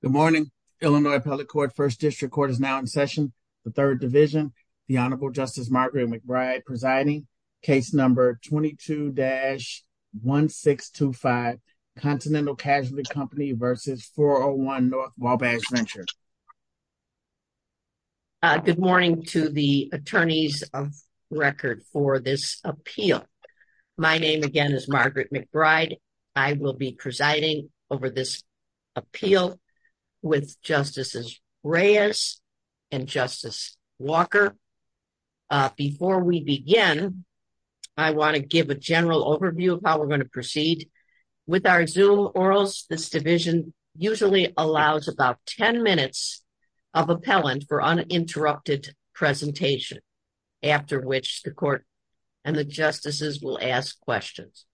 Good morning, Illinois Appellate Court, 1st District Court is now in session. The 3rd Division, the Honorable Justice Margaret McBride presiding, case number 22-1625, Continental Casualty Company v. 401 North Wabash Venture. Good morning to the attorneys of record for this appeal. My name again is Margaret McBride. I will be presiding over this appeal with Justices Reyes and Justice Walker. Before we begin, I want to give a general overview of how we're going to proceed. With our Zoom Orals, this division usually allows about 10 minutes of appellant for uninterrupted presentation after which the court and the justices will ask questions.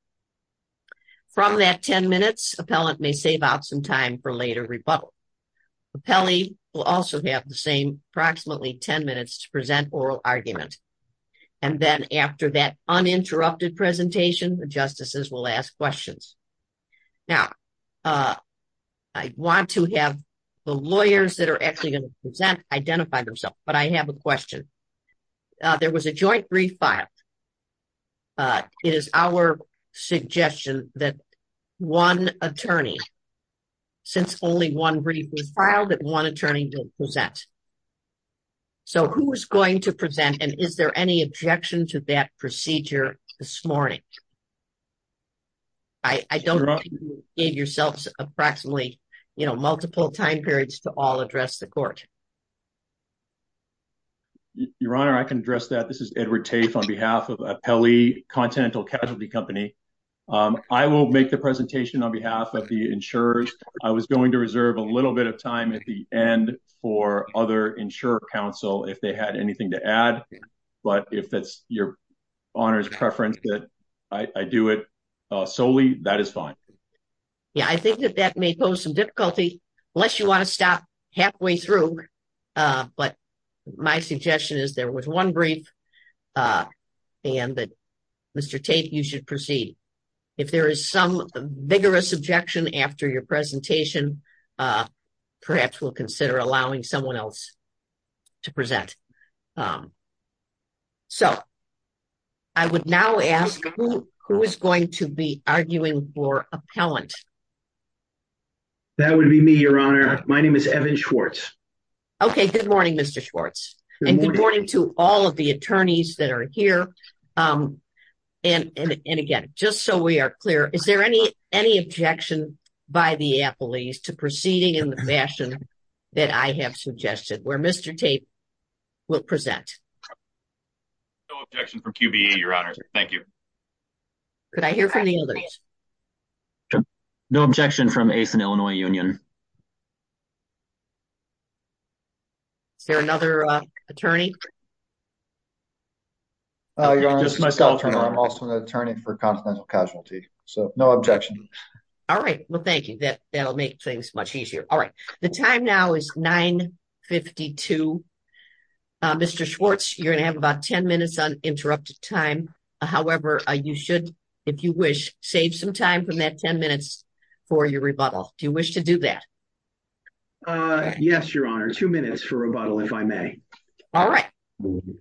From that 10 minutes, appellant may save out some time for later rebuttal. Appellee will also have the same approximately 10 minutes to present oral argument. And then after that uninterrupted presentation, the justices will ask questions. Now, I want to have the lawyers that are actually going to present identify themselves, but I have a question. There was a joint brief filed. It is our suggestion that one attorney, since only one brief was filed, that one attorney will present. So who is going to present and is there any objection to that procedure this morning? I don't think you gave yourselves approximately multiple time periods to all address the court. Your Honor, I can address that. This is Edward Tafe on behalf of Appellee Continental Casualty Company. I will make the presentation on behalf of the insurers. I was going to reserve a little bit of time at the end for other insurer counsel if they had anything to add. But if that's your Honor's preference that I do it solely, that is fine. Yeah, I think that that may pose some difficulty unless you want to stop halfway through. But my suggestion is there was one brief and that Mr. Tafe, you should proceed. If there is some vigorous objection after your presentation, perhaps we'll consider allowing someone else to present. So I would now ask who is going to be arguing for appellant? That would be me, Your Honor. My name is Evan Schwartz. Okay, good morning, Mr. Schwartz. And good morning to all of the attorneys that are here. And again, just so we are clear, is there any objection by the appellees to proceeding in the fashion that I have suggested where Mr. Tafe will present? No objection from QBE, Your Honor. Thank you. Could I hear from the others? No objection from Ace and Illinois Union. Is there another attorney? Just myself, Your Honor. I'm also an attorney for Continental Casualty. So no objection. All right. Well, thank you. That will make things much easier. All right. The time now is 9.52. Mr. Schwartz, you're going to have about 10 minutes uninterrupted time. However, you should, if you wish, save some time from that 10 minutes for your rebuttal. Do you wish to do that? Yes, Your Honor. Two minutes for rebuttal, if I may. All right.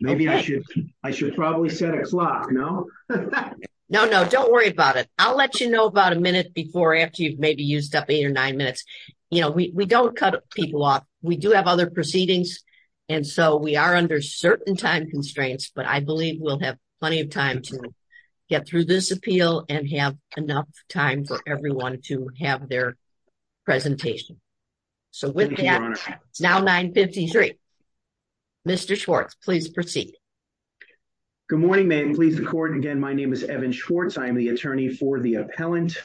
Maybe I should. I should probably set a clock, no? No, no, don't worry about it. I'll let you know about a minute before, after you've maybe used up eight or nine minutes. You know, we don't cut people off. We do have other proceedings. And so we are under certain time constraints. But I believe we'll have plenty of time to get through this appeal and have enough time for everyone to have their presentation. So with that, it's now 9.53. Mr. Schwartz, please proceed. Good morning, Ma'am. Please record. Again, my name is Evan Schwartz. I am the attorney for the appellant.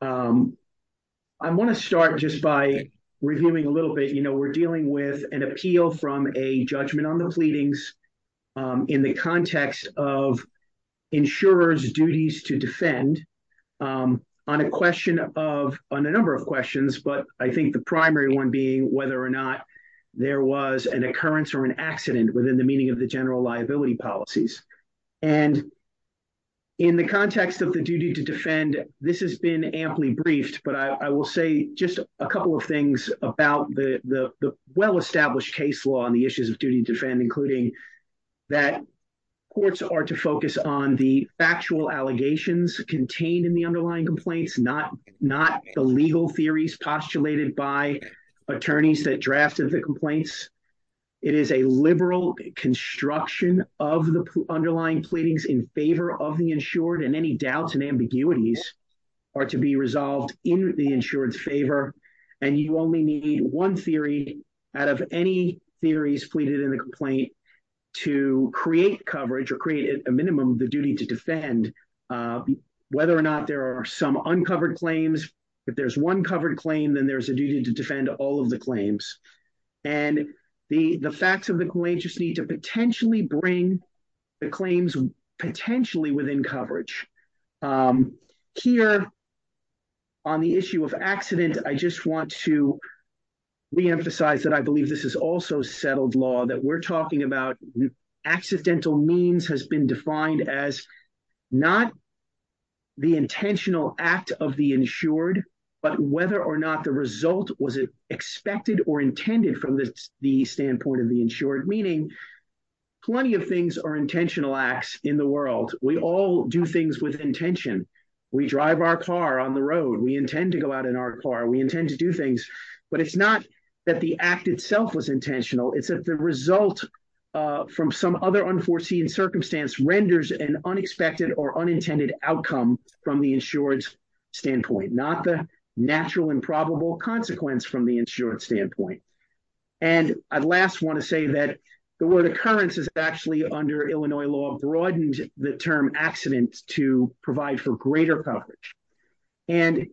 I want to start just by reviewing a little bit. You know, we're dealing with an appeal from a judgment on the pleadings in the context of the duty to defend. This has been amply briefed. But I will say just a couple of things about the well-established case law on the issues of duty to defend, including that courts are to focus on the factual allegations contained in the underlying complaints, not the legal theories postulated by attorneys that drafted the complaints. It is a liberal construction of the underlying pleadings in favor of the insured. And any doubts and ambiguities are to be resolved in the insured's favor. And you only need one theory out of any theories pleaded in the complaint to create coverage or create a minimum of the duty to defend, whether or not there are some uncovered claims. If there's one covered claim, then there's a duty to defend all of the claims. And the facts of the complaint just need to potentially bring the claims potentially within coverage. Here, on the issue of accident, I just want to reemphasize that I believe this is also settled law, that we're talking about accidental means has been defined as not the intentional act of the insured, but whether or not the result was expected or intended from the standpoint of the insured, meaning plenty of things are intentional acts in the world. We all do things with intention. We drive our car on the road. We intend to go out in our car. We intend to do things. But it's not that the act itself was intentional. It's that the result from some other unforeseen circumstance renders an unexpected or unintended outcome from the insured's standpoint, not the natural and probable consequence from the insured's standpoint. And I'd last want to say that the word occurrence is actually under Illinois law broadened the term accident to provide for greater coverage. And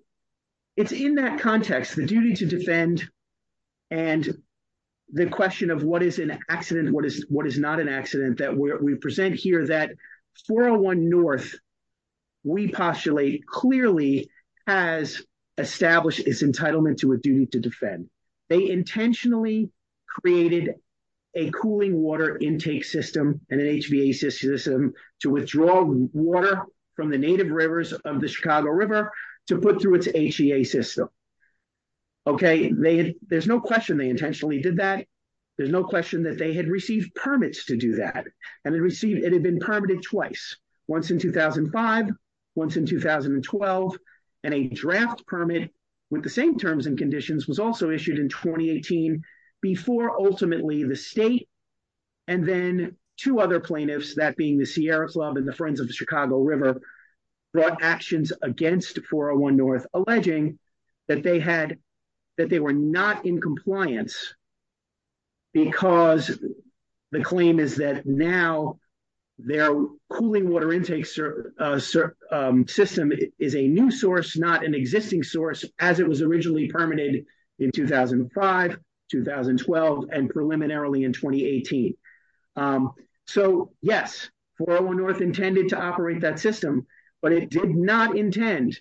it's in that context, the duty to defend and the question of what is an accident, what is not an accident that we present here that 401 North, we postulate clearly has established its entitlement to a duty to defend. They intentionally created a cooling water intake system and an HVA system to withdraw water from the native rivers of the Chicago River to put through its HVA system. OK, there's no question they intentionally did that. There's no question that they had received permits to do that. And it had been permitted twice, once in 2005, once in 2012. And a draft permit with the same terms and conditions was also issued in 2018 before ultimately the state and then two other plaintiffs, that being the Sierra Club and the Friends of the Chicago River, brought actions against 401 North, alleging that they were not in compliance because the claim is that now their cooling water intake system is a new source, not an existing source, as it was originally permitted in 2005, 2012, and preliminarily in 2018. So, yes, 401 North intended to operate that system, but it did not intend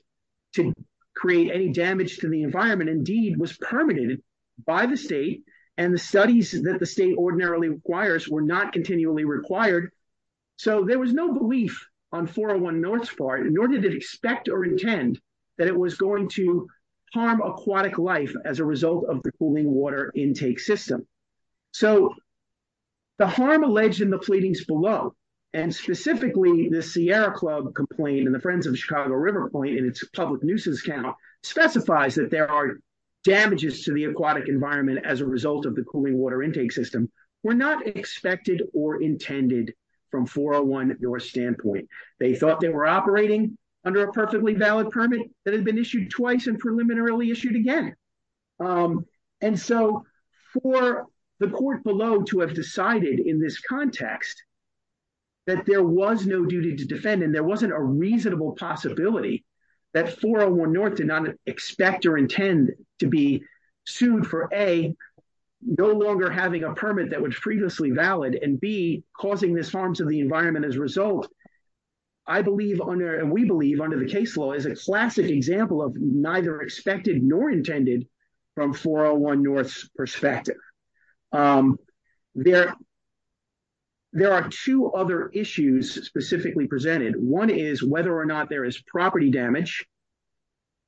to create any damage to the environment. Indeed, it was permitted by the state and the studies that the state ordinarily requires were not continually required. So there was no belief on 401 North's part, nor did it expect or intend that it was going to harm aquatic life as a result of the cooling water intake system. So the harm alleged in the pleadings below, and specifically the Sierra Club complaint and the Friends of the Chicago River complaint in its public nuisance count, specifies that there are damages to the aquatic environment as a result of the cooling water intake system, were not expected or intended from 401 North's standpoint. They thought they were operating under a perfectly valid permit that had been issued twice and preliminarily issued again. And so for the court below to have decided in this context that there was no duty to defend and there wasn't a reasonable possibility that 401 North did not expect or intend to be sued for, A, no longer having a permit that was previously valid, and B, causing this harm to the environment as a result, I believe and we believe under the case law is a classic example of neither expected nor intended from 401 North's perspective. There are two other issues specifically presented. One is whether or not there is property damage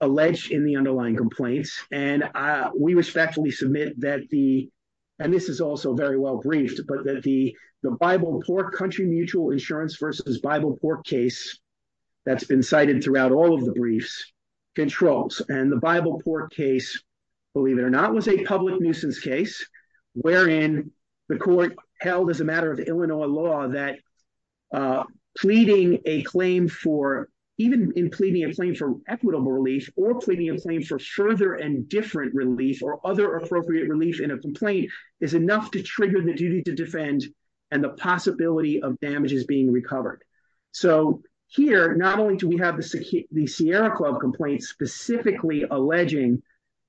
alleged in the underlying complaints. And we respectfully submit that the, and this is also very well briefed, but that the Bible Pork Country Mutual Insurance versus Bible Pork case that's been cited throughout all of the briefs controls. And the Bible Pork case, believe it or not, was a public nuisance case, wherein the court held as a matter of Illinois law that pleading a claim for, even in pleading a claim for further and different relief or other appropriate relief in a complaint is enough to trigger the duty to defend and the possibility of damages being recovered. So here, not only do we have the Sierra Club complaints specifically alleging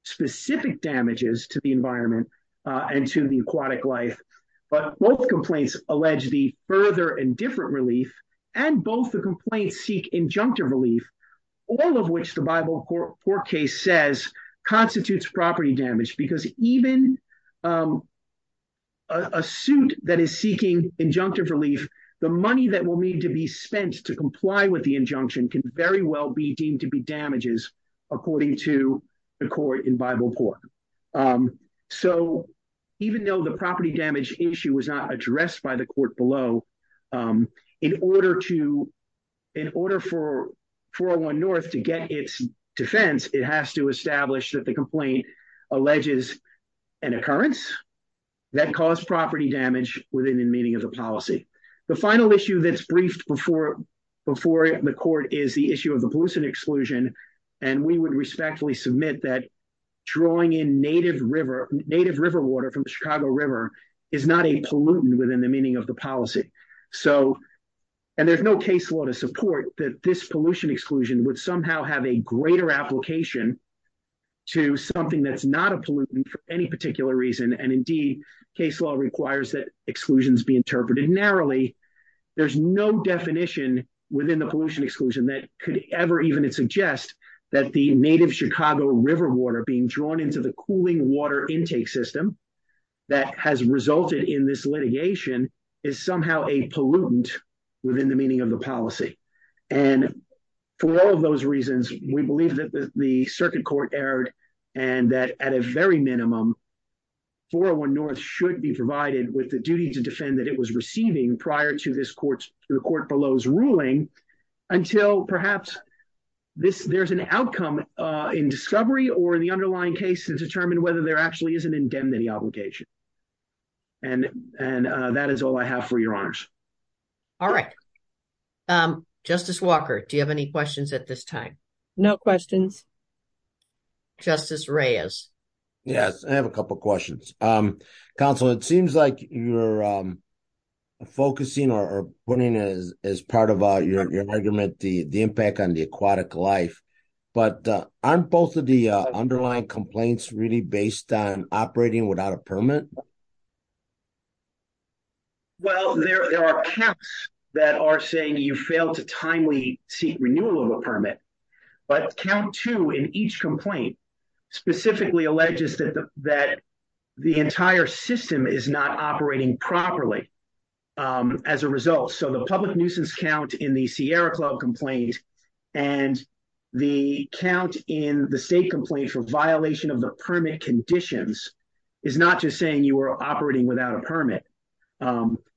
specific damages to the environment and to the aquatic life, but both complaints allege the further and different relief and both the complaints seek injunctive relief, all of which the Bible Pork case says constitutes property damage. Because even a suit that is seeking injunctive relief, the money that will need to be spent to comply with the injunction can very well be deemed to be damages according to the court in Bible Pork. So even though the property damage issue was not addressed by the court below, in order to, in order for 401 North to get its defense, it has to establish that the complaint alleges an occurrence that caused property damage within the meaning of the policy. The final issue that's briefed before the court is the issue of the pollution exclusion. And we would respectfully submit that drawing in native river water from the Chicago River is not a pollutant within the meaning of the policy. So, and there's no case law to support that this pollution exclusion would somehow have a greater application to something that's not a pollutant for any particular reason. And indeed, case law requires that exclusions be interpreted narrowly. There's no definition within the pollution exclusion that could ever even suggest that the native Chicago River water being drawn into the cooling water intake system that has resulted in this litigation is somehow a pollutant within the meaning of the policy. And for all of those reasons, we believe that the circuit court erred and that at a very minimum, 401 North should be provided with the duty to defend that it was receiving prior to this court, the court below's ruling until perhaps there's an outcome in discovery or the underlying case to determine whether there actually is an indemnity obligation. And that is all I have for your honors. All right. Justice Walker, do you have any questions at this time? No questions. Justice Reyes. Yes, I have a couple of questions. Counsel, it seems like you're focusing or putting as part of your argument, the impact on the aquatic life, but aren't both of the underlying complaints really based on operating without a permit? Well, there are accounts that are saying you failed to timely seek renewal of a permit, but count two in each complaint specifically alleges that the entire system is not operating properly as a result. So the public nuisance count in the Sierra Club complaint and the count in the state complaint for violation of the permit conditions is not just saying you were operating without a permit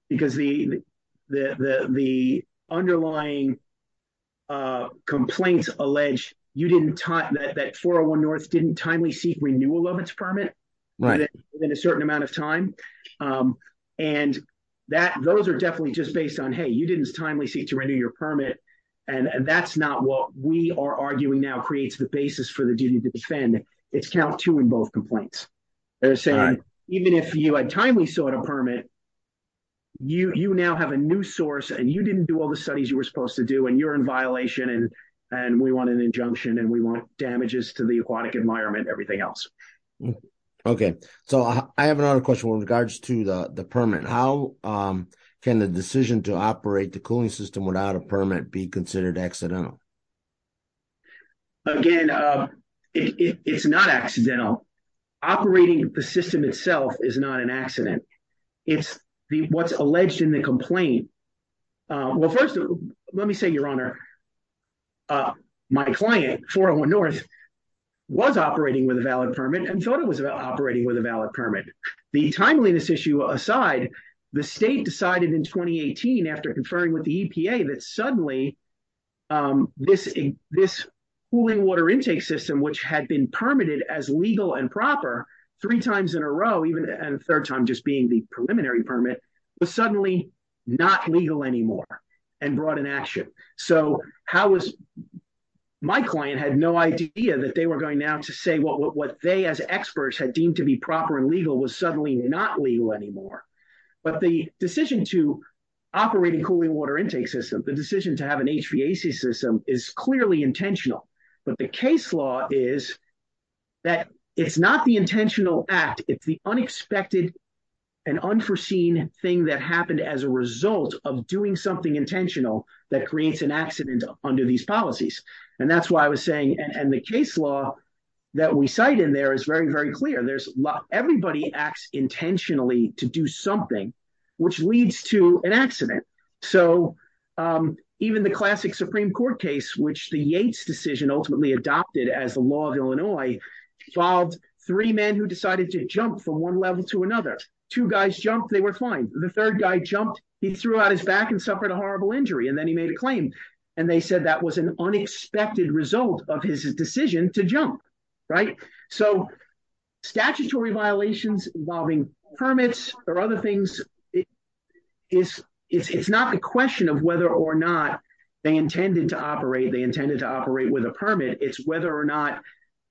because the underlying complaints allege that 401 North didn't timely seek renewal of its permit within a certain amount of time. And those are definitely just based on, hey, you didn't timely seek to renew your permit. And that's not what we are arguing now creates the basis for the duty to defend. It's count two in both complaints. They're saying even if you had timely sought a permit, you now have a new source and you didn't do all the studies you were supposed to do and you're in violation and we want an injunction and we want damages to the aquatic environment, everything else. Okay. So I have another question with regards to the permit. How can the decision to operate the cooling system without a permit be considered accidental? Again, it's not accidental. Operating the system itself is not an accident. It's what's alleged in the complaint. Well, first, let me say, Your Honor, my client, 401 North, was operating with a valid permit and thought it was operating with a valid permit. The timeliness issue aside, the state decided in 2018 after conferring with the EPA that suddenly this cooling water intake system, which had been permitted as legal and proper three times in a row, even a third time just being the preliminary permit, was suddenly not legal anymore and brought an action. So how was my client had no idea that they were going now to say what they as experts had deemed to be proper and legal was suddenly not legal anymore? But the decision to operate a cooling water intake system, the decision to have an HVAC system is clearly intentional. But the case law is that it's not the intentional act. It's the unexpected and unforeseen thing that happened as a result of doing something intentional that creates an accident under these policies. And that's why I was saying and the case law that we cite in there is very, very clear. Everybody acts intentionally to do something which leads to an accident. So even the classic Supreme Court case, which the Yates decision ultimately adopted as the law of Illinois, involved three men who decided to jump from one level to another. Two guys jumped. They were fine. The third guy jumped. He threw out his back and suffered a horrible injury. And then he made a claim. And they said that was an unexpected result of his decision to jump. Right? So statutory violations involving permits or other things, it's not a question of whether or not they intended to operate. They intended to operate with a permit. It's whether or not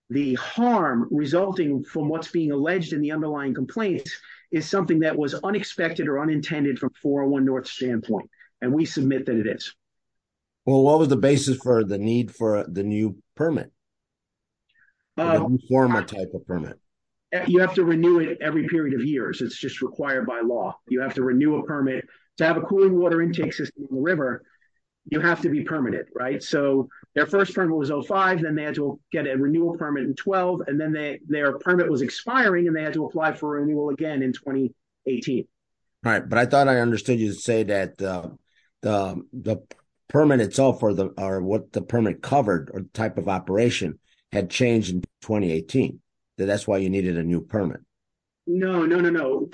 the harm resulting from what's being alleged in the underlying complaints is something that was unexpected or unintended from 401 North's standpoint. And we submit that it is. Well, what was the basis for the need for the new permit? A new former type of permit? You have to renew it every period of years. It's just required by law. You have to renew a permit. To have a cooling water intake system in the river, you have to be permitted. Right? So their first permit was 05. Then they had to get a renewal permit in 12. And then their permit was expiring. And they had to apply for renewal again in 2018. Right. But I thought I understood you to say that the permit itself or what the permit covered or the type of operation had changed in 2018. That's why you needed a new permit. No, no, no, no.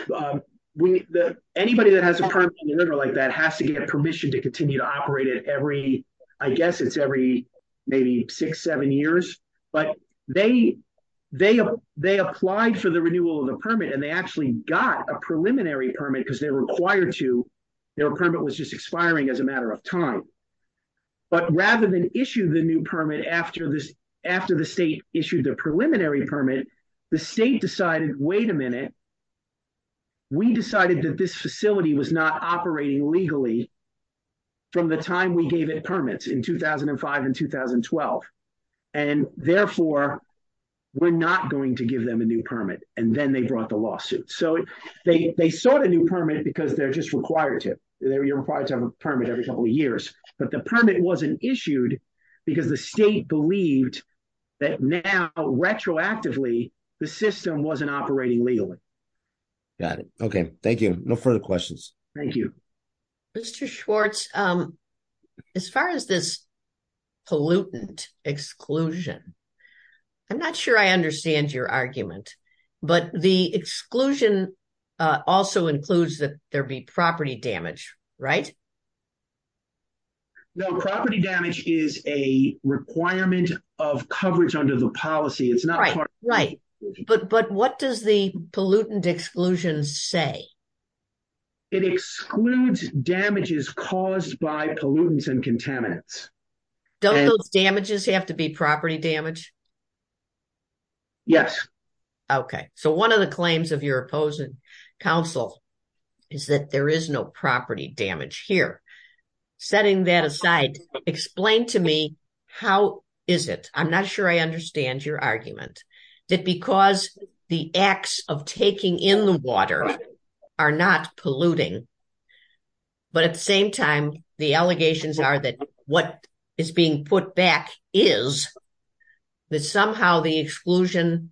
Anybody that has a permit in the river like that has to get permission to continue to operate it every, I guess it's every maybe six, seven years. But they applied for the renewal of the permit. And they actually got a preliminary permit because they were required to. Their permit was just expiring as a matter of time. But rather than issue the new permit after the state issued the preliminary permit, the state decided, wait a minute. We decided that this facility was not operating legally from the time we gave it permits in 2005 and 2012. And therefore, we're not going to give them a new permit. And then they brought the lawsuit. So they sought a new permit because they're just required to. They're required to have a permit every couple of years. But the permit wasn't issued because the state believed that now retroactively the system wasn't operating legally. Got it. Okay. Thank you. No further questions. Thank you. Mr. Schwartz, as far as this pollutant exclusion, I'm not sure I understand your argument, but the exclusion also includes that there be property damage, right? No, property damage is a requirement of coverage under the policy. It's not part. Right. But what does the pollutant exclusion say? It excludes damages caused by pollutants and contaminants. Don't those damages have to be property damage? Yes. Okay. So one of the claims of your opposing counsel is that there is no property damage here. Setting that aside, explain to me, how is it? I'm not sure I understand your argument. That because the acts of taking in the water are not polluting, but at the same time, the allegations are that what is being put back is that somehow the exclusion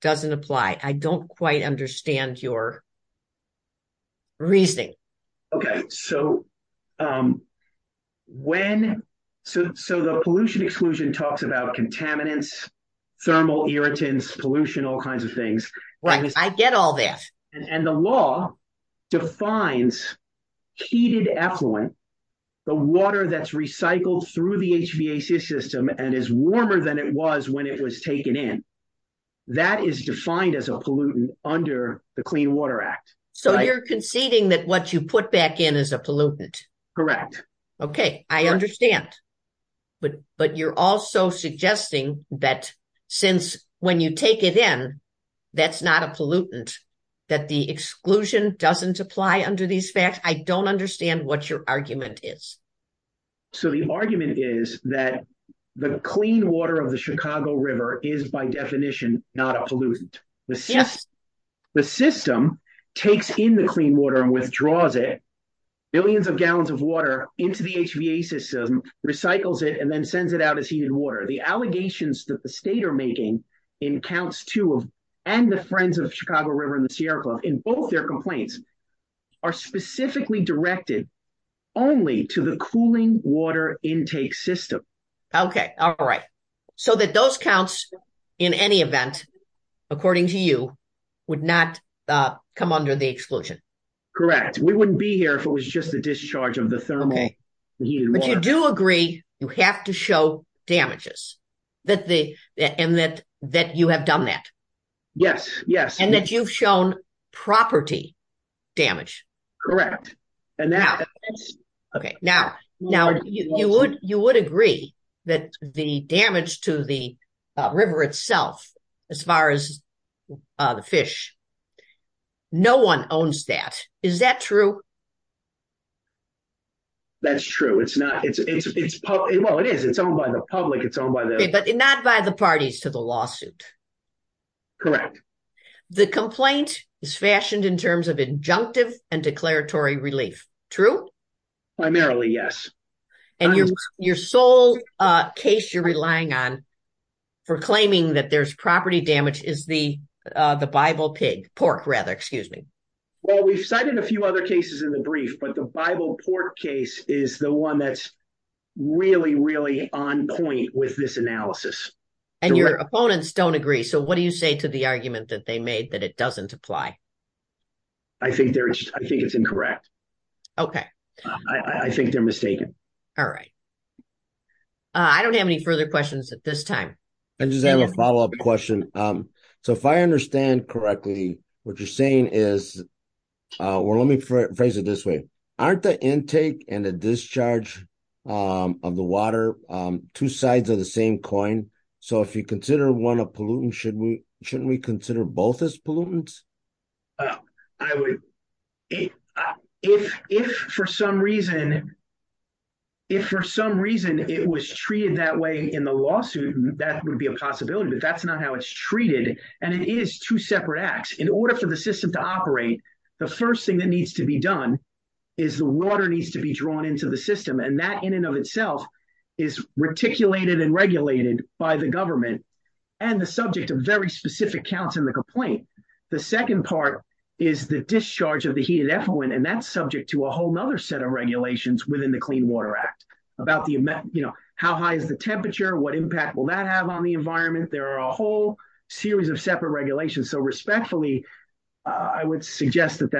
doesn't apply. I don't quite understand your reasoning. Okay. So the pollution exclusion talks about contaminants, thermal irritants, pollution, all kinds of things. Right. I get all that. And the law defines heated effluent, the water that's recycled through the HVAC system and is warmer than it was when it was taken in. That is defined as a pollutant under the Clean Water Act. So you're conceding that what you put back in is a pollutant. Correct. Okay. I understand. But you're also suggesting that since when you take it in, that's not a pollutant, that the exclusion doesn't apply under these facts. I don't understand what your argument is. So the argument is that the clean water of the Chicago River is by definition not a pollutant. Yes. The system takes in the clean water and withdraws it. Billions of gallons of water into the HVAC system, recycles it, and then sends it out as heated water. The allegations that the state are making in counts two and the friends of Chicago River and the Sierra Club in both their complaints are specifically directed only to the cooling water intake system. Okay. All right. So that those counts, in any event, according to you, would not come under the exclusion. Correct. We wouldn't be here if it was just the discharge of the thermal heated water. But you do agree you have to show damages and that you have done that. Yes, yes. And that you've shown property damage. Correct. Now, you would agree that the damage to the river itself, as far as the fish, no one owns that. Is that true? That's true. Well, it is. It's owned by the public. Not by the parties to the lawsuit. Correct. The complaint is fashioned in terms of injunctive and declaratory relief, true? Primarily, yes. And your sole case you're relying on for claiming that there's property damage is the Bible pig, pork rather, excuse me. Well, we've cited a few other cases in the brief, but the Bible pork case is the one that's really, really on point with this analysis. And your opponents don't agree. So what do you say to the argument that they made that it doesn't apply? I think it's incorrect. Okay. I think they're mistaken. All right. I don't have any further questions at this time. I just have a follow up question. So if I understand correctly, what you're saying is, well, let me phrase it this way. Aren't the intake and the discharge of the water two sides of the same coin? So if you consider one a pollutant, shouldn't we consider both as pollutants? If for some reason it was treated that way in the lawsuit, that would be a possibility. But that's not how it's treated. And it is two separate acts. In order for the system to operate, the first thing that needs to be done is the water needs to be drawn into the system. And that in and of itself is reticulated and regulated by the government and the subject of very specific counts in the complaint. The second part is the discharge of the heated effluent. And that's subject to a whole nother set of regulations within the Clean Water Act about how high is the temperature? What impact will that have on the environment? There are a whole series of separate regulations. So respectfully, I would suggest that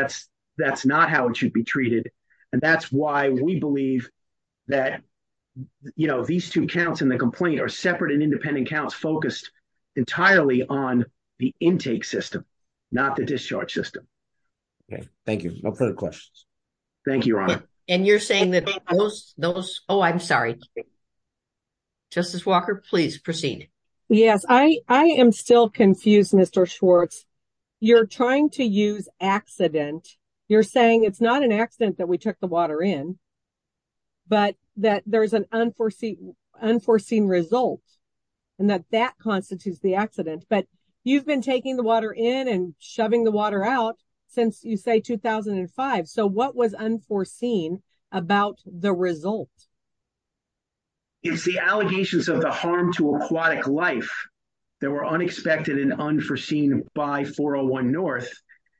that's not how it should be treated. And that's why we believe that these two counts in the complaint are separate and independent counts focused entirely on the intake system, not the discharge system. Thank you. No further questions. Thank you, Your Honor. And you're saying that those... Oh, I'm sorry. Justice Walker, please proceed. Yes, I am still confused, Mr. Schwartz. You're trying to use accident. You're saying it's not an accident that we took the water in, but that there's an unforeseen result and that that constitutes the accident. But you've been taking the water in and shoving the water out since, you say, 2005. So what was unforeseen about the result? It's the allegations of the harm to aquatic life that were unexpected and unforeseen by 401 North.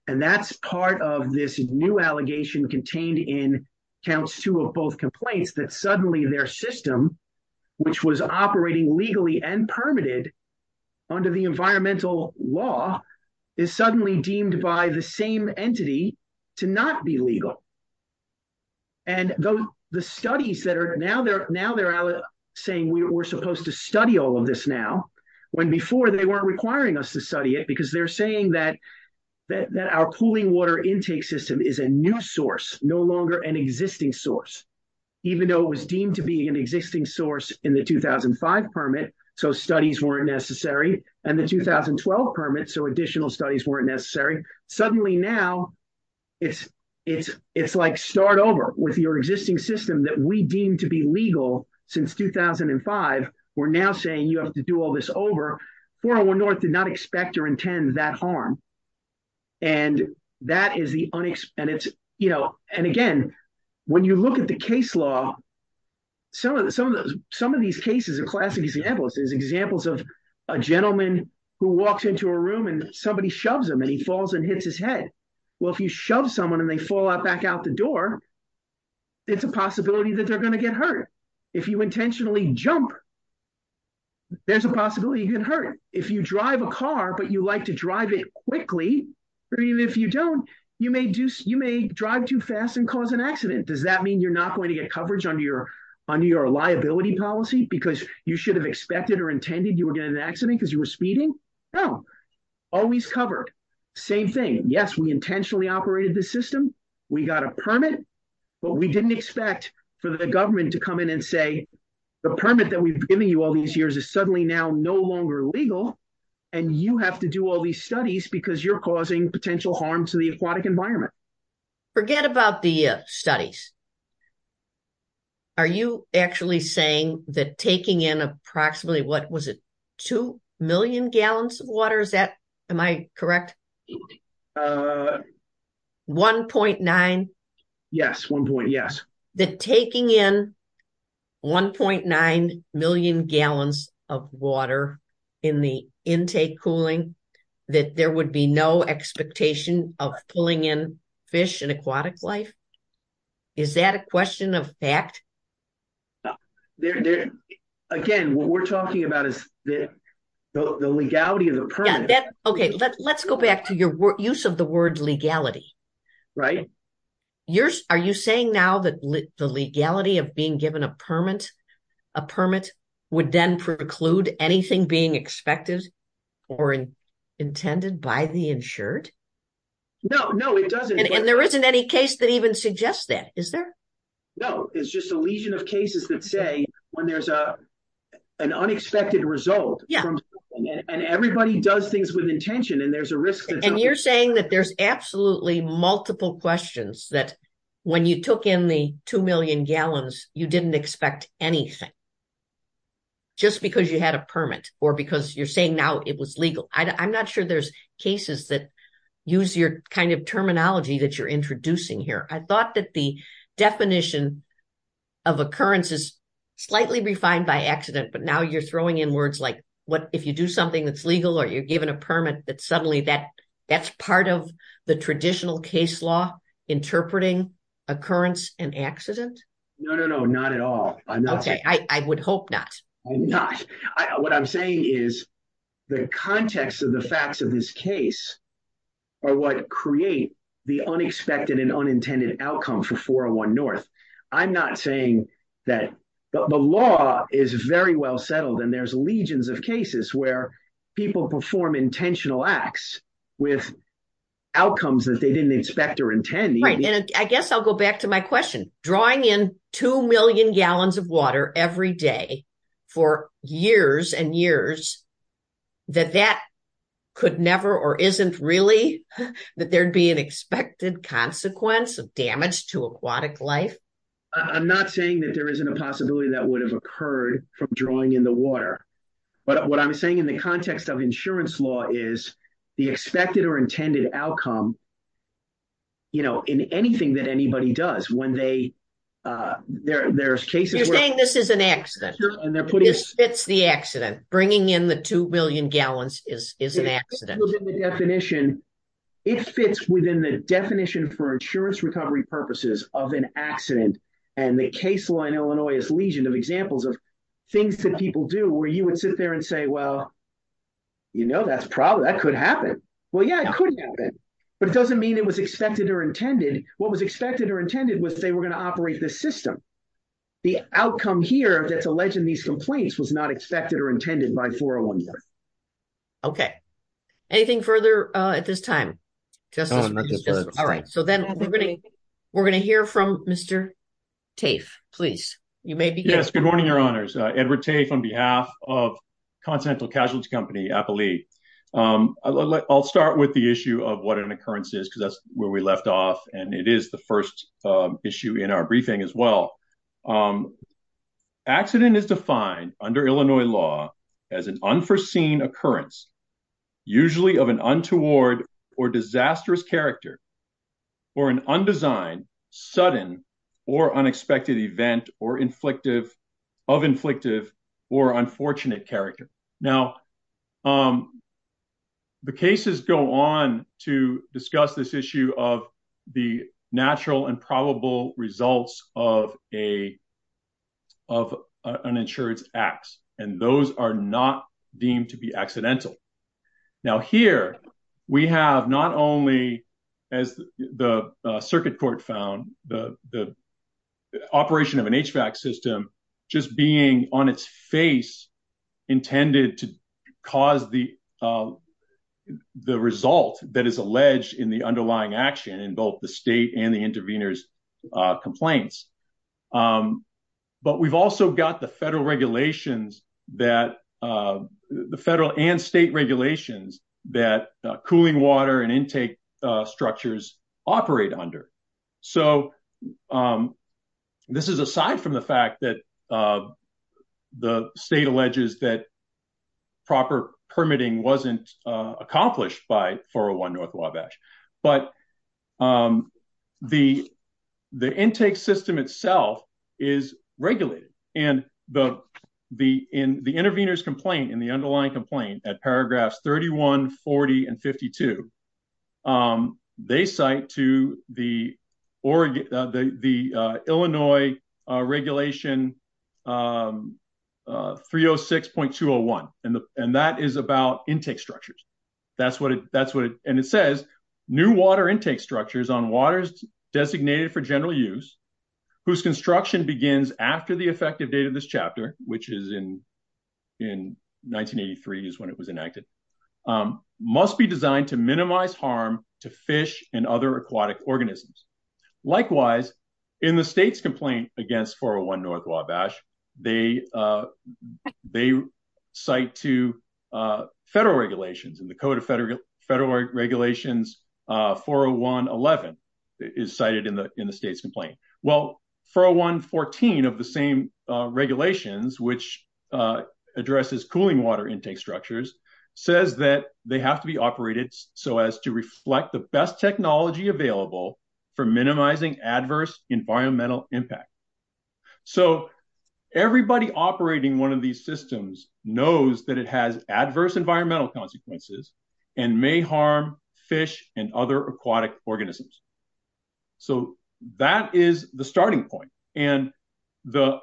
And that's part of this new allegation contained in counts two of both complaints, that suddenly their system, which was operating legally and permitted under the environmental law, is suddenly deemed by the same entity to not be legal. And the studies that are... Now they're saying we're supposed to study all of this now, when before they weren't requiring us to study it, because they're saying that our pooling water intake system is a new source, no longer an existing source. Even though it was deemed to be an existing source in the 2005 permit, so studies weren't necessary, and the 2012 permit, so additional studies weren't necessary. Suddenly now, it's like start over with your existing system that we deemed to be legal since 2005. We're now saying you have to do all this over. 401 North did not expect or intend that harm. And that is the... And again, when you look at the case law, some of these cases are classic examples. There's examples of a gentleman who walks into a room and somebody shoves him and he falls and hits his head. Well, if you shove someone and they fall out back out the door, it's a possibility that they're going to get hurt. If you intentionally jump, there's a possibility you can hurt. If you drive a car, but you like to drive it quickly, even if you don't, you may drive too fast and cause an accident. Does that mean you're not going to get coverage under your liability policy because you should have expected or intended you were getting an accident because you were speeding? No, always covered. Same thing. Yes, we intentionally operated the system. We got a permit, but we didn't expect for the government to come in and say, the permit that we've given you all these years is suddenly now no longer legal and you have to do all these studies because you're causing potential harm to the aquatic environment. Forget about the studies. Are you actually saying that taking in approximately, what was it? Two million gallons of water? Is that... Am I correct? Yes, one point, yes. That taking in 1.9 million gallons of water in the intake cooling, that there would be no expectation of pulling in fish and aquatic life? Is that a question of fact? Again, what we're talking about is the legality of the permit. Let's go back to your use of the word legality. Are you saying now that the legality of being given a permit would then preclude anything being expected or intended by the insured? No, no, it doesn't. And there isn't any case that even suggests that, is there? No, it's just a legion of cases that say when there's an unexpected result and everybody does things with intention and there's a risk that... And you're saying that there's absolutely multiple questions that when you took in the two million gallons, you didn't expect anything just because you had a permit or because you're saying now it was legal. I'm not sure there's cases that use your terminology that you're introducing here. I thought that the definition of occurrence is slightly refined by accident, but now you're giving a permit that suddenly that's part of the traditional case law interpreting occurrence and accident? No, no, no, not at all. Okay, I would hope not. I'm not. What I'm saying is the context of the facts of this case are what create the unexpected and unintended outcome for 401 North. I'm not saying that... The law is very well settled and there's legions of cases where people perform intentional acts with outcomes that they didn't expect or intend. Right, and I guess I'll go back to my question. Drawing in two million gallons of water every day for years and years, that that could never or isn't really that there'd be an expected consequence of damage to aquatic life? I'm not saying that there isn't a possibility that would have occurred from drawing in the water, but what I'm saying in the context of insurance law is the expected or intended outcome, you know, in anything that anybody does when they... There's cases where... You're saying this is an accident. It's the accident. Bringing in the two million gallons is an accident. The definition, it fits within the definition for insurance recovery purposes of an accident and the case law in Illinois is legion of examples of things that people do where you would sit there and say, well, you know, that's probably... That could happen. Well, yeah, it could happen, but it doesn't mean it was expected or intended. What was expected or intended was they were going to operate the system. The outcome here that's alleged in these complaints was not expected or intended by 401 North. Okay. Anything further at this time? All right. So then we're going to hear from Mr. Tafe, please. You may begin. Yes. Good morning, Your Honors. Edward Tafe on behalf of Continental Casualty Company, Appali. I'll start with the issue of what an occurrence is because that's where we left off and it is the first issue in our briefing as well. An accident is defined under Illinois law as an unforeseen occurrence, usually of an untoward or disastrous character or an undesigned, sudden or unexpected event of inflictive or unfortunate character. Now, the cases go on to discuss this issue of the natural and probable results of an insurance ax, and those are not deemed to be accidental. Now, here we have not only, as the circuit court found, the operation of an HVAC system just being on its face intended to cause the result that is alleged in the underlying action in both the state and the intervenors' complaints, but we've also got the federal and state regulations that cooling water and intake structures operate under. So, this is aside from the fact that the state alleges that proper permitting wasn't accomplished by 401 North Wabash, but the intake system itself is regulated and in the intervenors' complaint and the underlying complaint at paragraphs 31, 40, and 52, they cite to the Illinois regulation 306.201, and that is about intake structures. And it says, new water intake structures on waters designated for general use, whose construction begins after the effective date of this chapter, which is in 1983 is when it was enacted, must be designed to minimize harm to fish and other aquatic organisms. Likewise, in the state's complaint against 401 North Wabash, they cite to federal regulations and the Code of Federal Regulations 401.11 is cited in the state's complaint. Well, 401.14 of the same regulations, which addresses cooling water intake structures, says that they have to be operated so as to reflect the best technology available for minimizing adverse environmental impact. So, everybody operating one of these systems knows that it has adverse environmental consequences and may harm fish and other aquatic organisms. So, that is the starting point. And the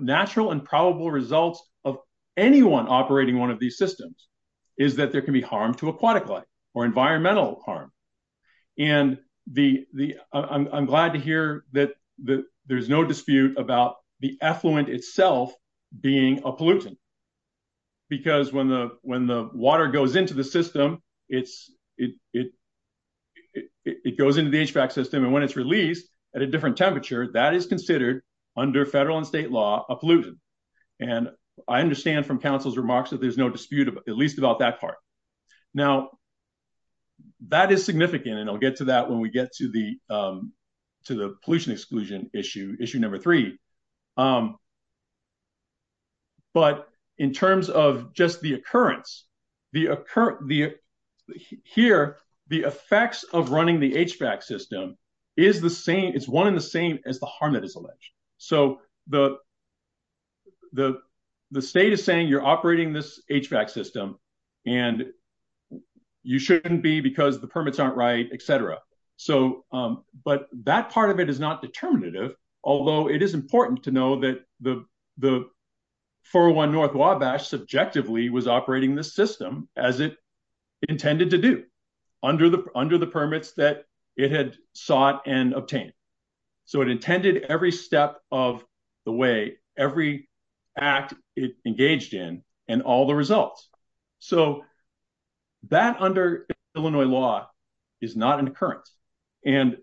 natural and probable results of anyone operating one of these systems is that there can be harm to aquatic life or environmental harm. And I'm glad to hear that there's no dispute about the effluent itself being a pollutant, because when the water goes into the system, it goes into the HVAC system, and when it's released at a different temperature, that is considered, under federal and state law, a pollutant. And I understand from Council's remarks that there's no dispute, at least about that part. Now, that is significant, and I'll get to that when we get to the pollution exclusion issue, issue number three. But, in terms of just the occurrence, here, the effects of running the HVAC system is the same, it's one in the same, as the harm that is alleged. So, the state is saying you're operating this HVAC system, and you shouldn't be because the permits aren't right, et cetera. So, but that part of it is not determinative, although it is important to know that the 401 North Wabash subjectively was operating this system as it intended to do, under the permits that it had sought and obtained. So, it intended every step of the way, every act it engaged in, and all the results. So, that, under Illinois law, is not an occurrence. And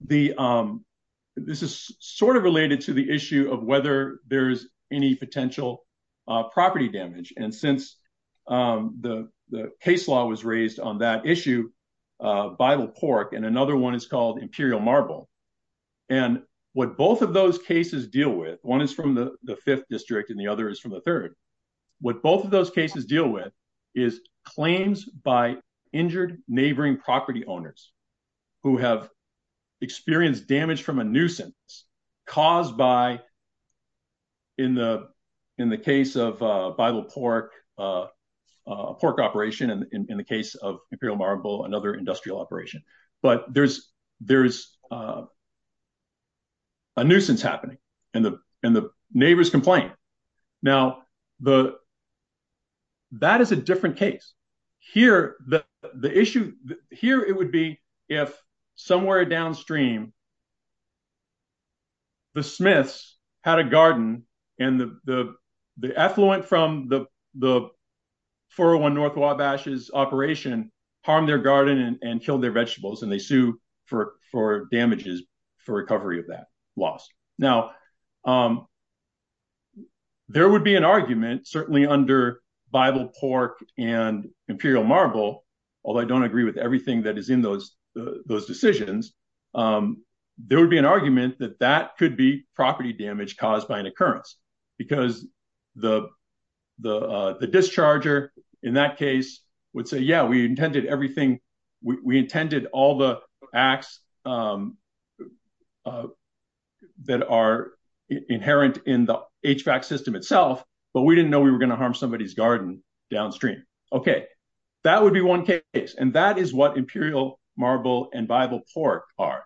this is sort of related to the issue of whether there's any potential property damage. And since the case law was raised on that issue, Bible Cork, and another one is called Imperial Marble, and what both of those cases deal with, one is from the fifth district and the other is from the third, what both of those cases deal with is claims by injured neighboring property owners who have experienced damage from a nuisance caused by, in the case of Bible Cork, Cork operation, and in the case of Imperial Marble, another industrial operation. But there's a nuisance happening, and the neighbors complain. Now, that is a different case. Here, the issue, here it would be if somewhere downstream, the Smiths had a garden and the sue for damages for recovery of that loss. Now, there would be an argument, certainly under Bible Cork and Imperial Marble, although I don't agree with everything that is in those decisions, there would be an argument that that could be property damage caused by an occurrence, because the discharger, in that case, would say, we intended everything, we intended all the acts that are inherent in the HVAC system itself, but we didn't know we were going to harm somebody's garden downstream. Okay, that would be one case, and that is what Imperial Marble and Bible Cork are.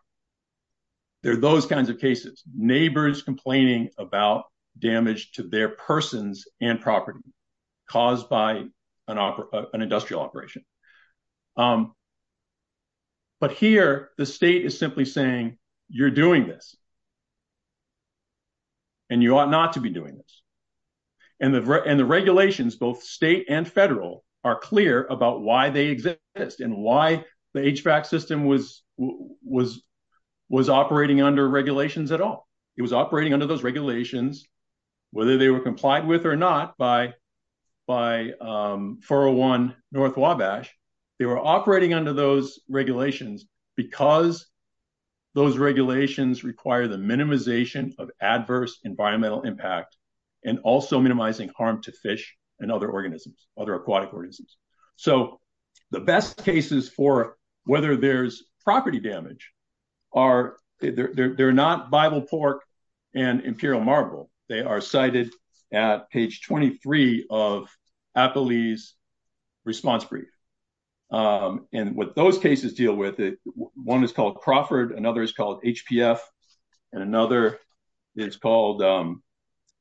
They're those kinds of cases, neighbors complaining about damage to their persons and caused by an industrial operation. But here, the state is simply saying, you're doing this, and you ought not to be doing this. And the regulations, both state and federal, are clear about why they exist and why the HVAC system was operating under regulations at all. It was operating under those regulations, whether they were complied with or not by 401 North Wabash, they were operating under those regulations because those regulations require the minimization of adverse environmental impact and also minimizing harm to fish and other organisms, other aquatic organisms. So, the best cases for whether there's property damage are, they're not Bible Cork and Imperial Marble, they are cited at page 23 of Appley's response brief. And what those cases deal with, one is called Crawford, another is called HPF, and another is called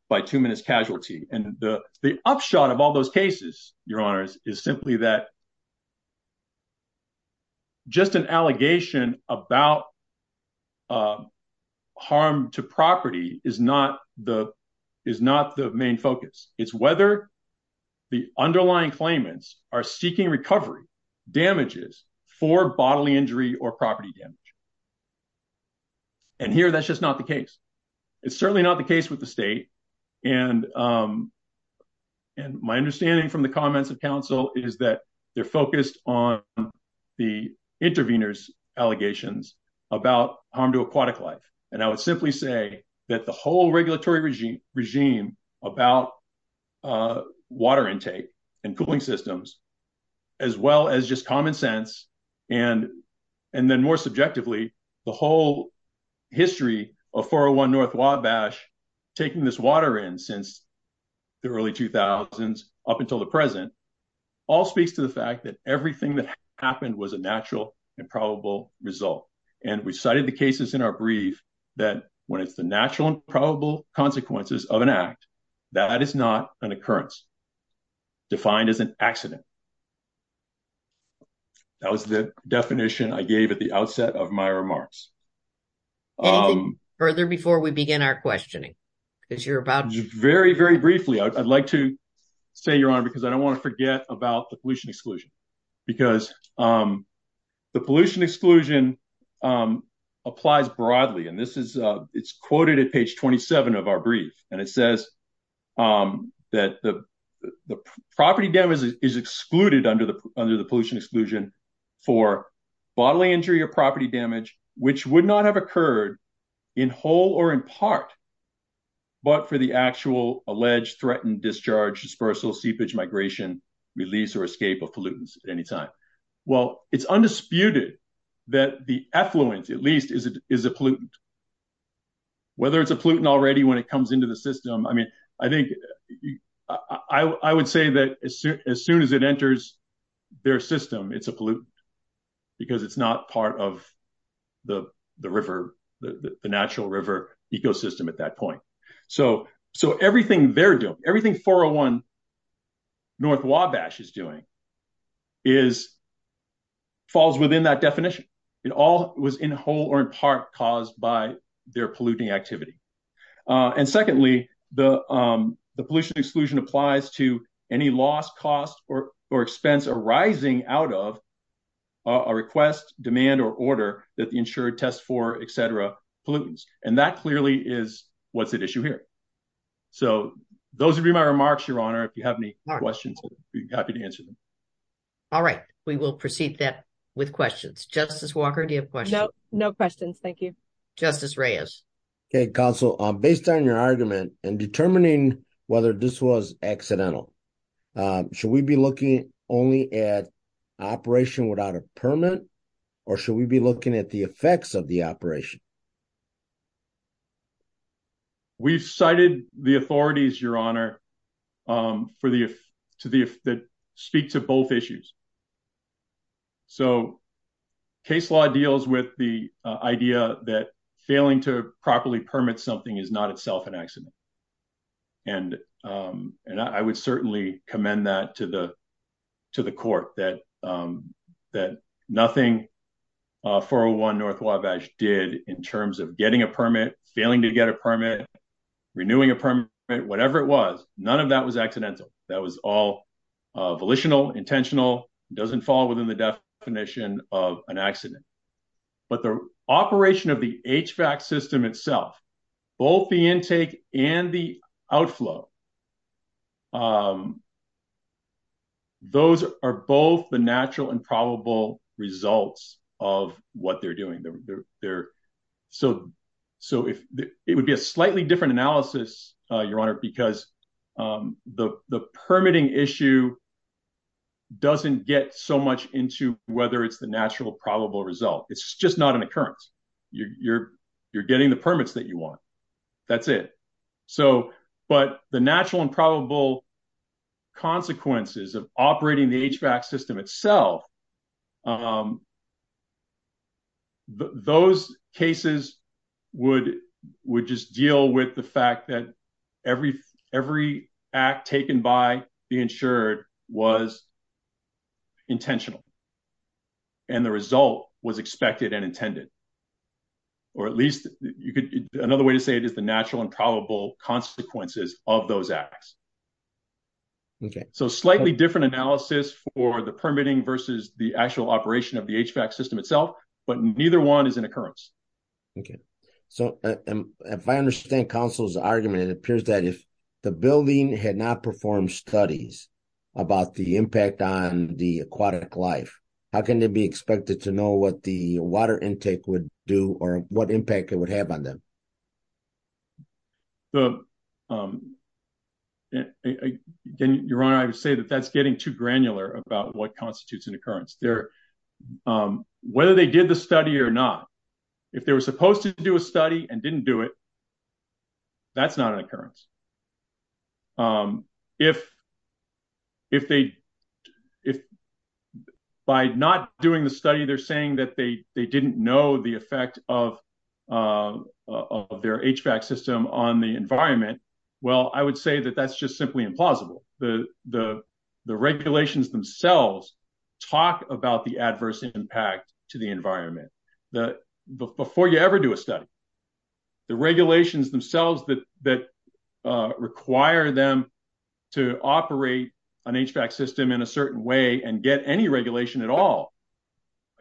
bituminous casualty. And the upshot of all those cases, Your Honors, is simply that just an allegation about harm to property is not the main focus. It's whether the underlying claimants are seeking recovery damages for bodily injury or property damage. And here, that's just not the case. It's certainly not the case with the state. And my understanding from the comments of counsel is that they're focused on the intervenors' allegations about harm to aquatic life. And I would simply say that the whole regulatory regime about water intake and cooling systems, as well as just common sense, and then more subjectively, the whole history of 401 North Wabash taking this water in since the early 2000s up until the present, all speaks to the fact that everything that happened was a natural and probable result. And we cited the cases in our brief that when it's the natural and probable consequences of an act, that is not an occurrence defined as an accident. That was the definition I gave at the outset of my remarks. Anything further before we begin our questioning? Very, very briefly, I'd like to say, Your Honor, because I don't want to forget about the pollution exclusion. Because the pollution exclusion applies broadly. And it's quoted at page 27 of our brief. And it says that the property damage is excluded under the pollution exclusion for bodily injury or property damage, which would not have occurred in whole or in part, but for the actual alleged threatened discharge, dispersal, seepage, migration, release or escape of pollutants at any time. Well, it's undisputed that the effluent, at least, is a pollutant. Whether it's a pollutant already when it comes into the system. I mean, I think I would say that as soon as it enters their system, it's a pollutant. Because it's not part of the river, the natural river ecosystem at that point. So everything they're doing, everything 401 North Wabash is doing, falls within that definition. It all was in whole or in part caused by their polluting activity. And secondly, the pollution exclusion applies to any loss, cost or expense arising out of a request, demand or order that the insurer tests for, et cetera, pollutants. And that clearly is what's at issue here. So those would be my remarks, Your Honor. If you have any questions, I'd be happy to answer them. All right. We will proceed then with questions. Justice Walker, do you have questions? No questions. Thank you. Justice Reyes. Okay, Counsel. Based on your argument and determining whether this was accidental, should we be looking only at operation without a permit or should we be looking at the effects of the operation? We've cited the authorities, Your Honor, that speak to both issues. So case law deals with the idea that failing to properly permit something is not itself an accident. And I would certainly commend that to the court, that nothing 401 North Wabash did in terms of getting a permit, failing to get a permit, renewing a permit, whatever it was, none of that was accidental. That was all volitional, intentional, doesn't fall within the definition of an accident. But the operation of the HVAC system itself, both the intake and the outflow, those are both the natural and probable results of what they're doing. So it would be a slightly different analysis, Your Honor, because the permitting issue doesn't get so much into whether it's the natural probable result. It's just not an occurrence. You're getting the permits that you want. That's it. So, but the natural and probable consequences of operating the HVAC system itself, those cases would just deal with the fact that every act taken by the insured was intentional and the result was expected and intended. Or at least another way to say it is the natural and probable consequences of those acts. So slightly different analysis for the permitting versus the actual operation of the HVAC system itself, but neither one is an occurrence. Okay. So if I understand counsel's argument, it appears that if the building had not performed studies about the impact on the aquatic life, how can they be expected to know what the water intake would do or what impact it would have on them? So, Your Honor, I would say that that's getting too granular about what constitutes an occurrence. Whether they did the study or not, if they were supposed to do a study and didn't do it, that's not an occurrence. If by not doing the study, they're saying that they didn't know the effect of their HVAC system on the environment. Well, I would say that that's just simply implausible. The regulations themselves talk about the adverse impact to the environment. That before you ever do a study, the regulations themselves that require them to operate an HVAC system in a certain way and get any regulation at all,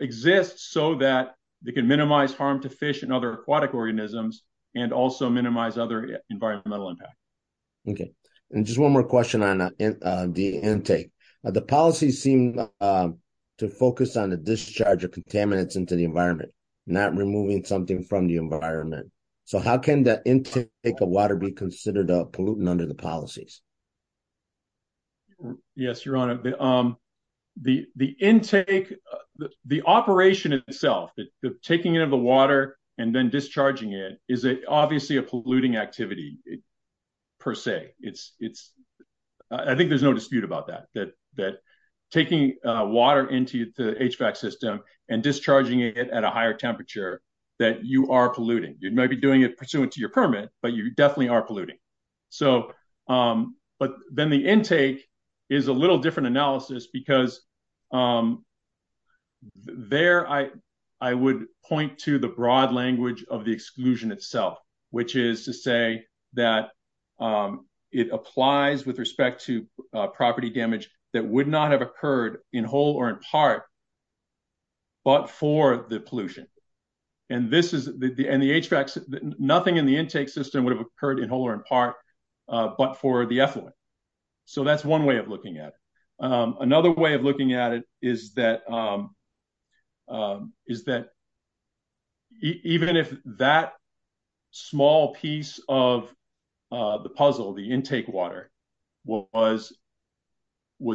exists so that they can minimize harm to fish and other aquatic organisms and also minimize other environmental impact. Okay. And just one more question on the intake. The policy seemed to focus on the discharge of contaminants into the environment, not removing something from the environment. So, how can the intake of water be considered a pollutant under the policies? Yes, Your Honor. The intake, the operation itself, taking in the water and then discharging it, is obviously a polluting activity, per se. I think there's no dispute about that, that taking water into the HVAC system and discharging it at a higher temperature that you are polluting. You might be doing it pursuant to your permit, but you definitely are polluting. But then the intake is a little different analysis because there I would point to the broad language of the exclusion itself, which is to say that it applies with respect to property damage that would not have occurred in whole or in part, but for the pollution. And the HVAC, nothing in the intake system would have occurred in whole or in part, but for the effluent. So, that's one way of looking at it. Another way of looking at it is that even if that small piece of the puzzle, the intake water, was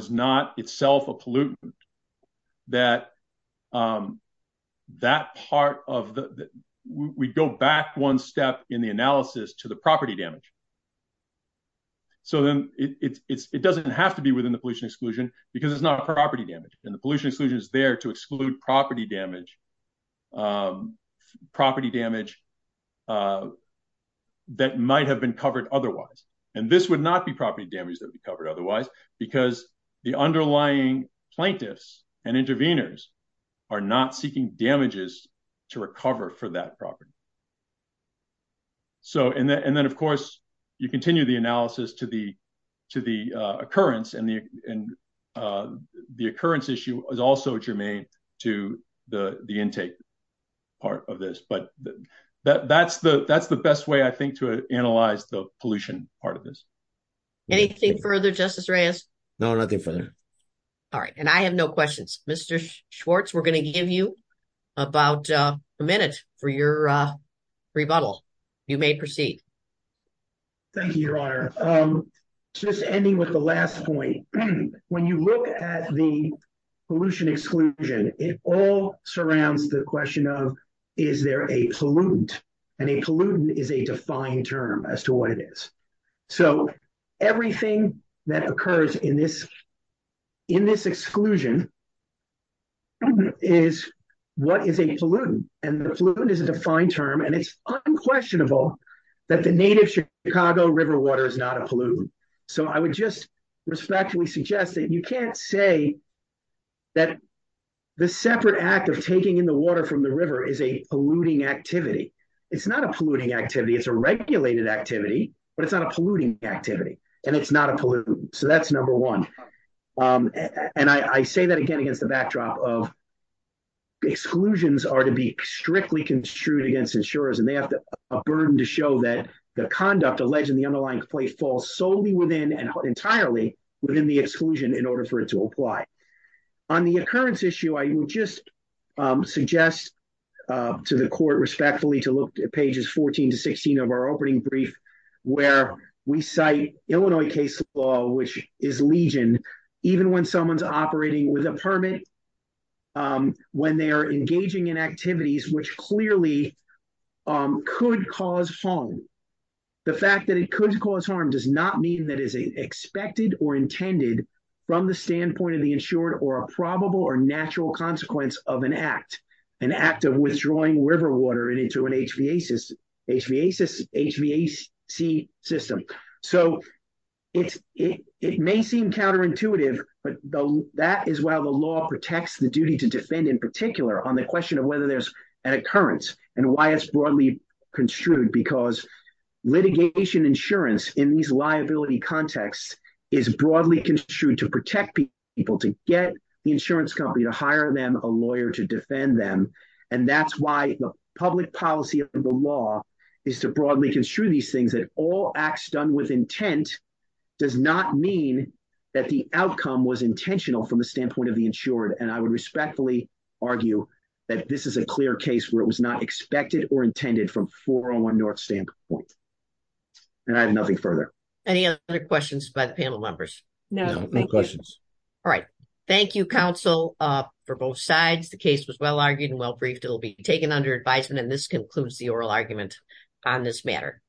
not itself a pollutant, that that part of the, we go back one step in the analysis to the property damage. So, then it doesn't have to be within the pollution exclusion because it's not a property damage. And the pollution exclusion is there to exclude property damage that might have been covered otherwise. And this would not be property damage that would be covered otherwise because the underlying plaintiffs and intervenors are not seeking damages to recover for that property. So, and then of course, you continue the analysis to the occurrence and the occurrence issue is also germane to the intake part of this. But that's the best way I think to analyze the pollution part of this. Anything further, Justice Reyes? No, nothing further. All right. And I have no questions. Mr. Schwartz, we're going to give you about a minute for your rebuttal. You may proceed. Thank you, Your Honor. Just ending with the last point. When you look at the pollution exclusion, it all surrounds the question of, is there a pollutant? And a pollutant is a defined term as to what it is. So everything that occurs in this exclusion is what is a pollutant. And the pollutant is a defined term. And it's unquestionable that the native Chicago river water is not a pollutant. So I would just respectfully suggest that you can't say that the separate act of taking in the water from the river is a polluting activity. It's not a polluting activity. It's a regulated activity. But it's not a polluting activity. And it's not a pollutant. So that's number one. And I say that again against the backdrop of exclusions are to be strictly construed against insurers. And they have a burden to show that the conduct alleged in the underlying complaint falls solely within and entirely within the exclusion in order for it to apply. On the occurrence issue, I would just suggest to the court respectfully to look at pages 14 to 16 of our opening brief, where we cite Illinois case law, which is legion, even when someone's operating with a permit, when they are engaging in activities, which clearly could cause harm. The fact that it could cause harm does not mean that is expected or intended from the standpoint of the insured or a probable or natural consequence of an act. An act of withdrawing river water into an HVAC system. So it may seem counterintuitive, but that is why the law protects the duty to defend in particular on the question of whether there's an occurrence and why it's broadly construed. Because litigation insurance in these liability contexts is broadly construed to protect people, to get the insurance company, to hire them a lawyer, to defend them. And that's why the public policy of the law is to broadly construe these things that all acts done with intent does not mean that the outcome was intentional from the standpoint of the insured. And I would respectfully argue that this is a clear case where it was not expected or intended from 401 North standpoint. And I have nothing further. Any other questions by the panel members? No, no questions. All right. Thank you, counsel for both sides. The case was well-argued and well-briefed. It will be taken under advisement. And this concludes the oral argument on this matter.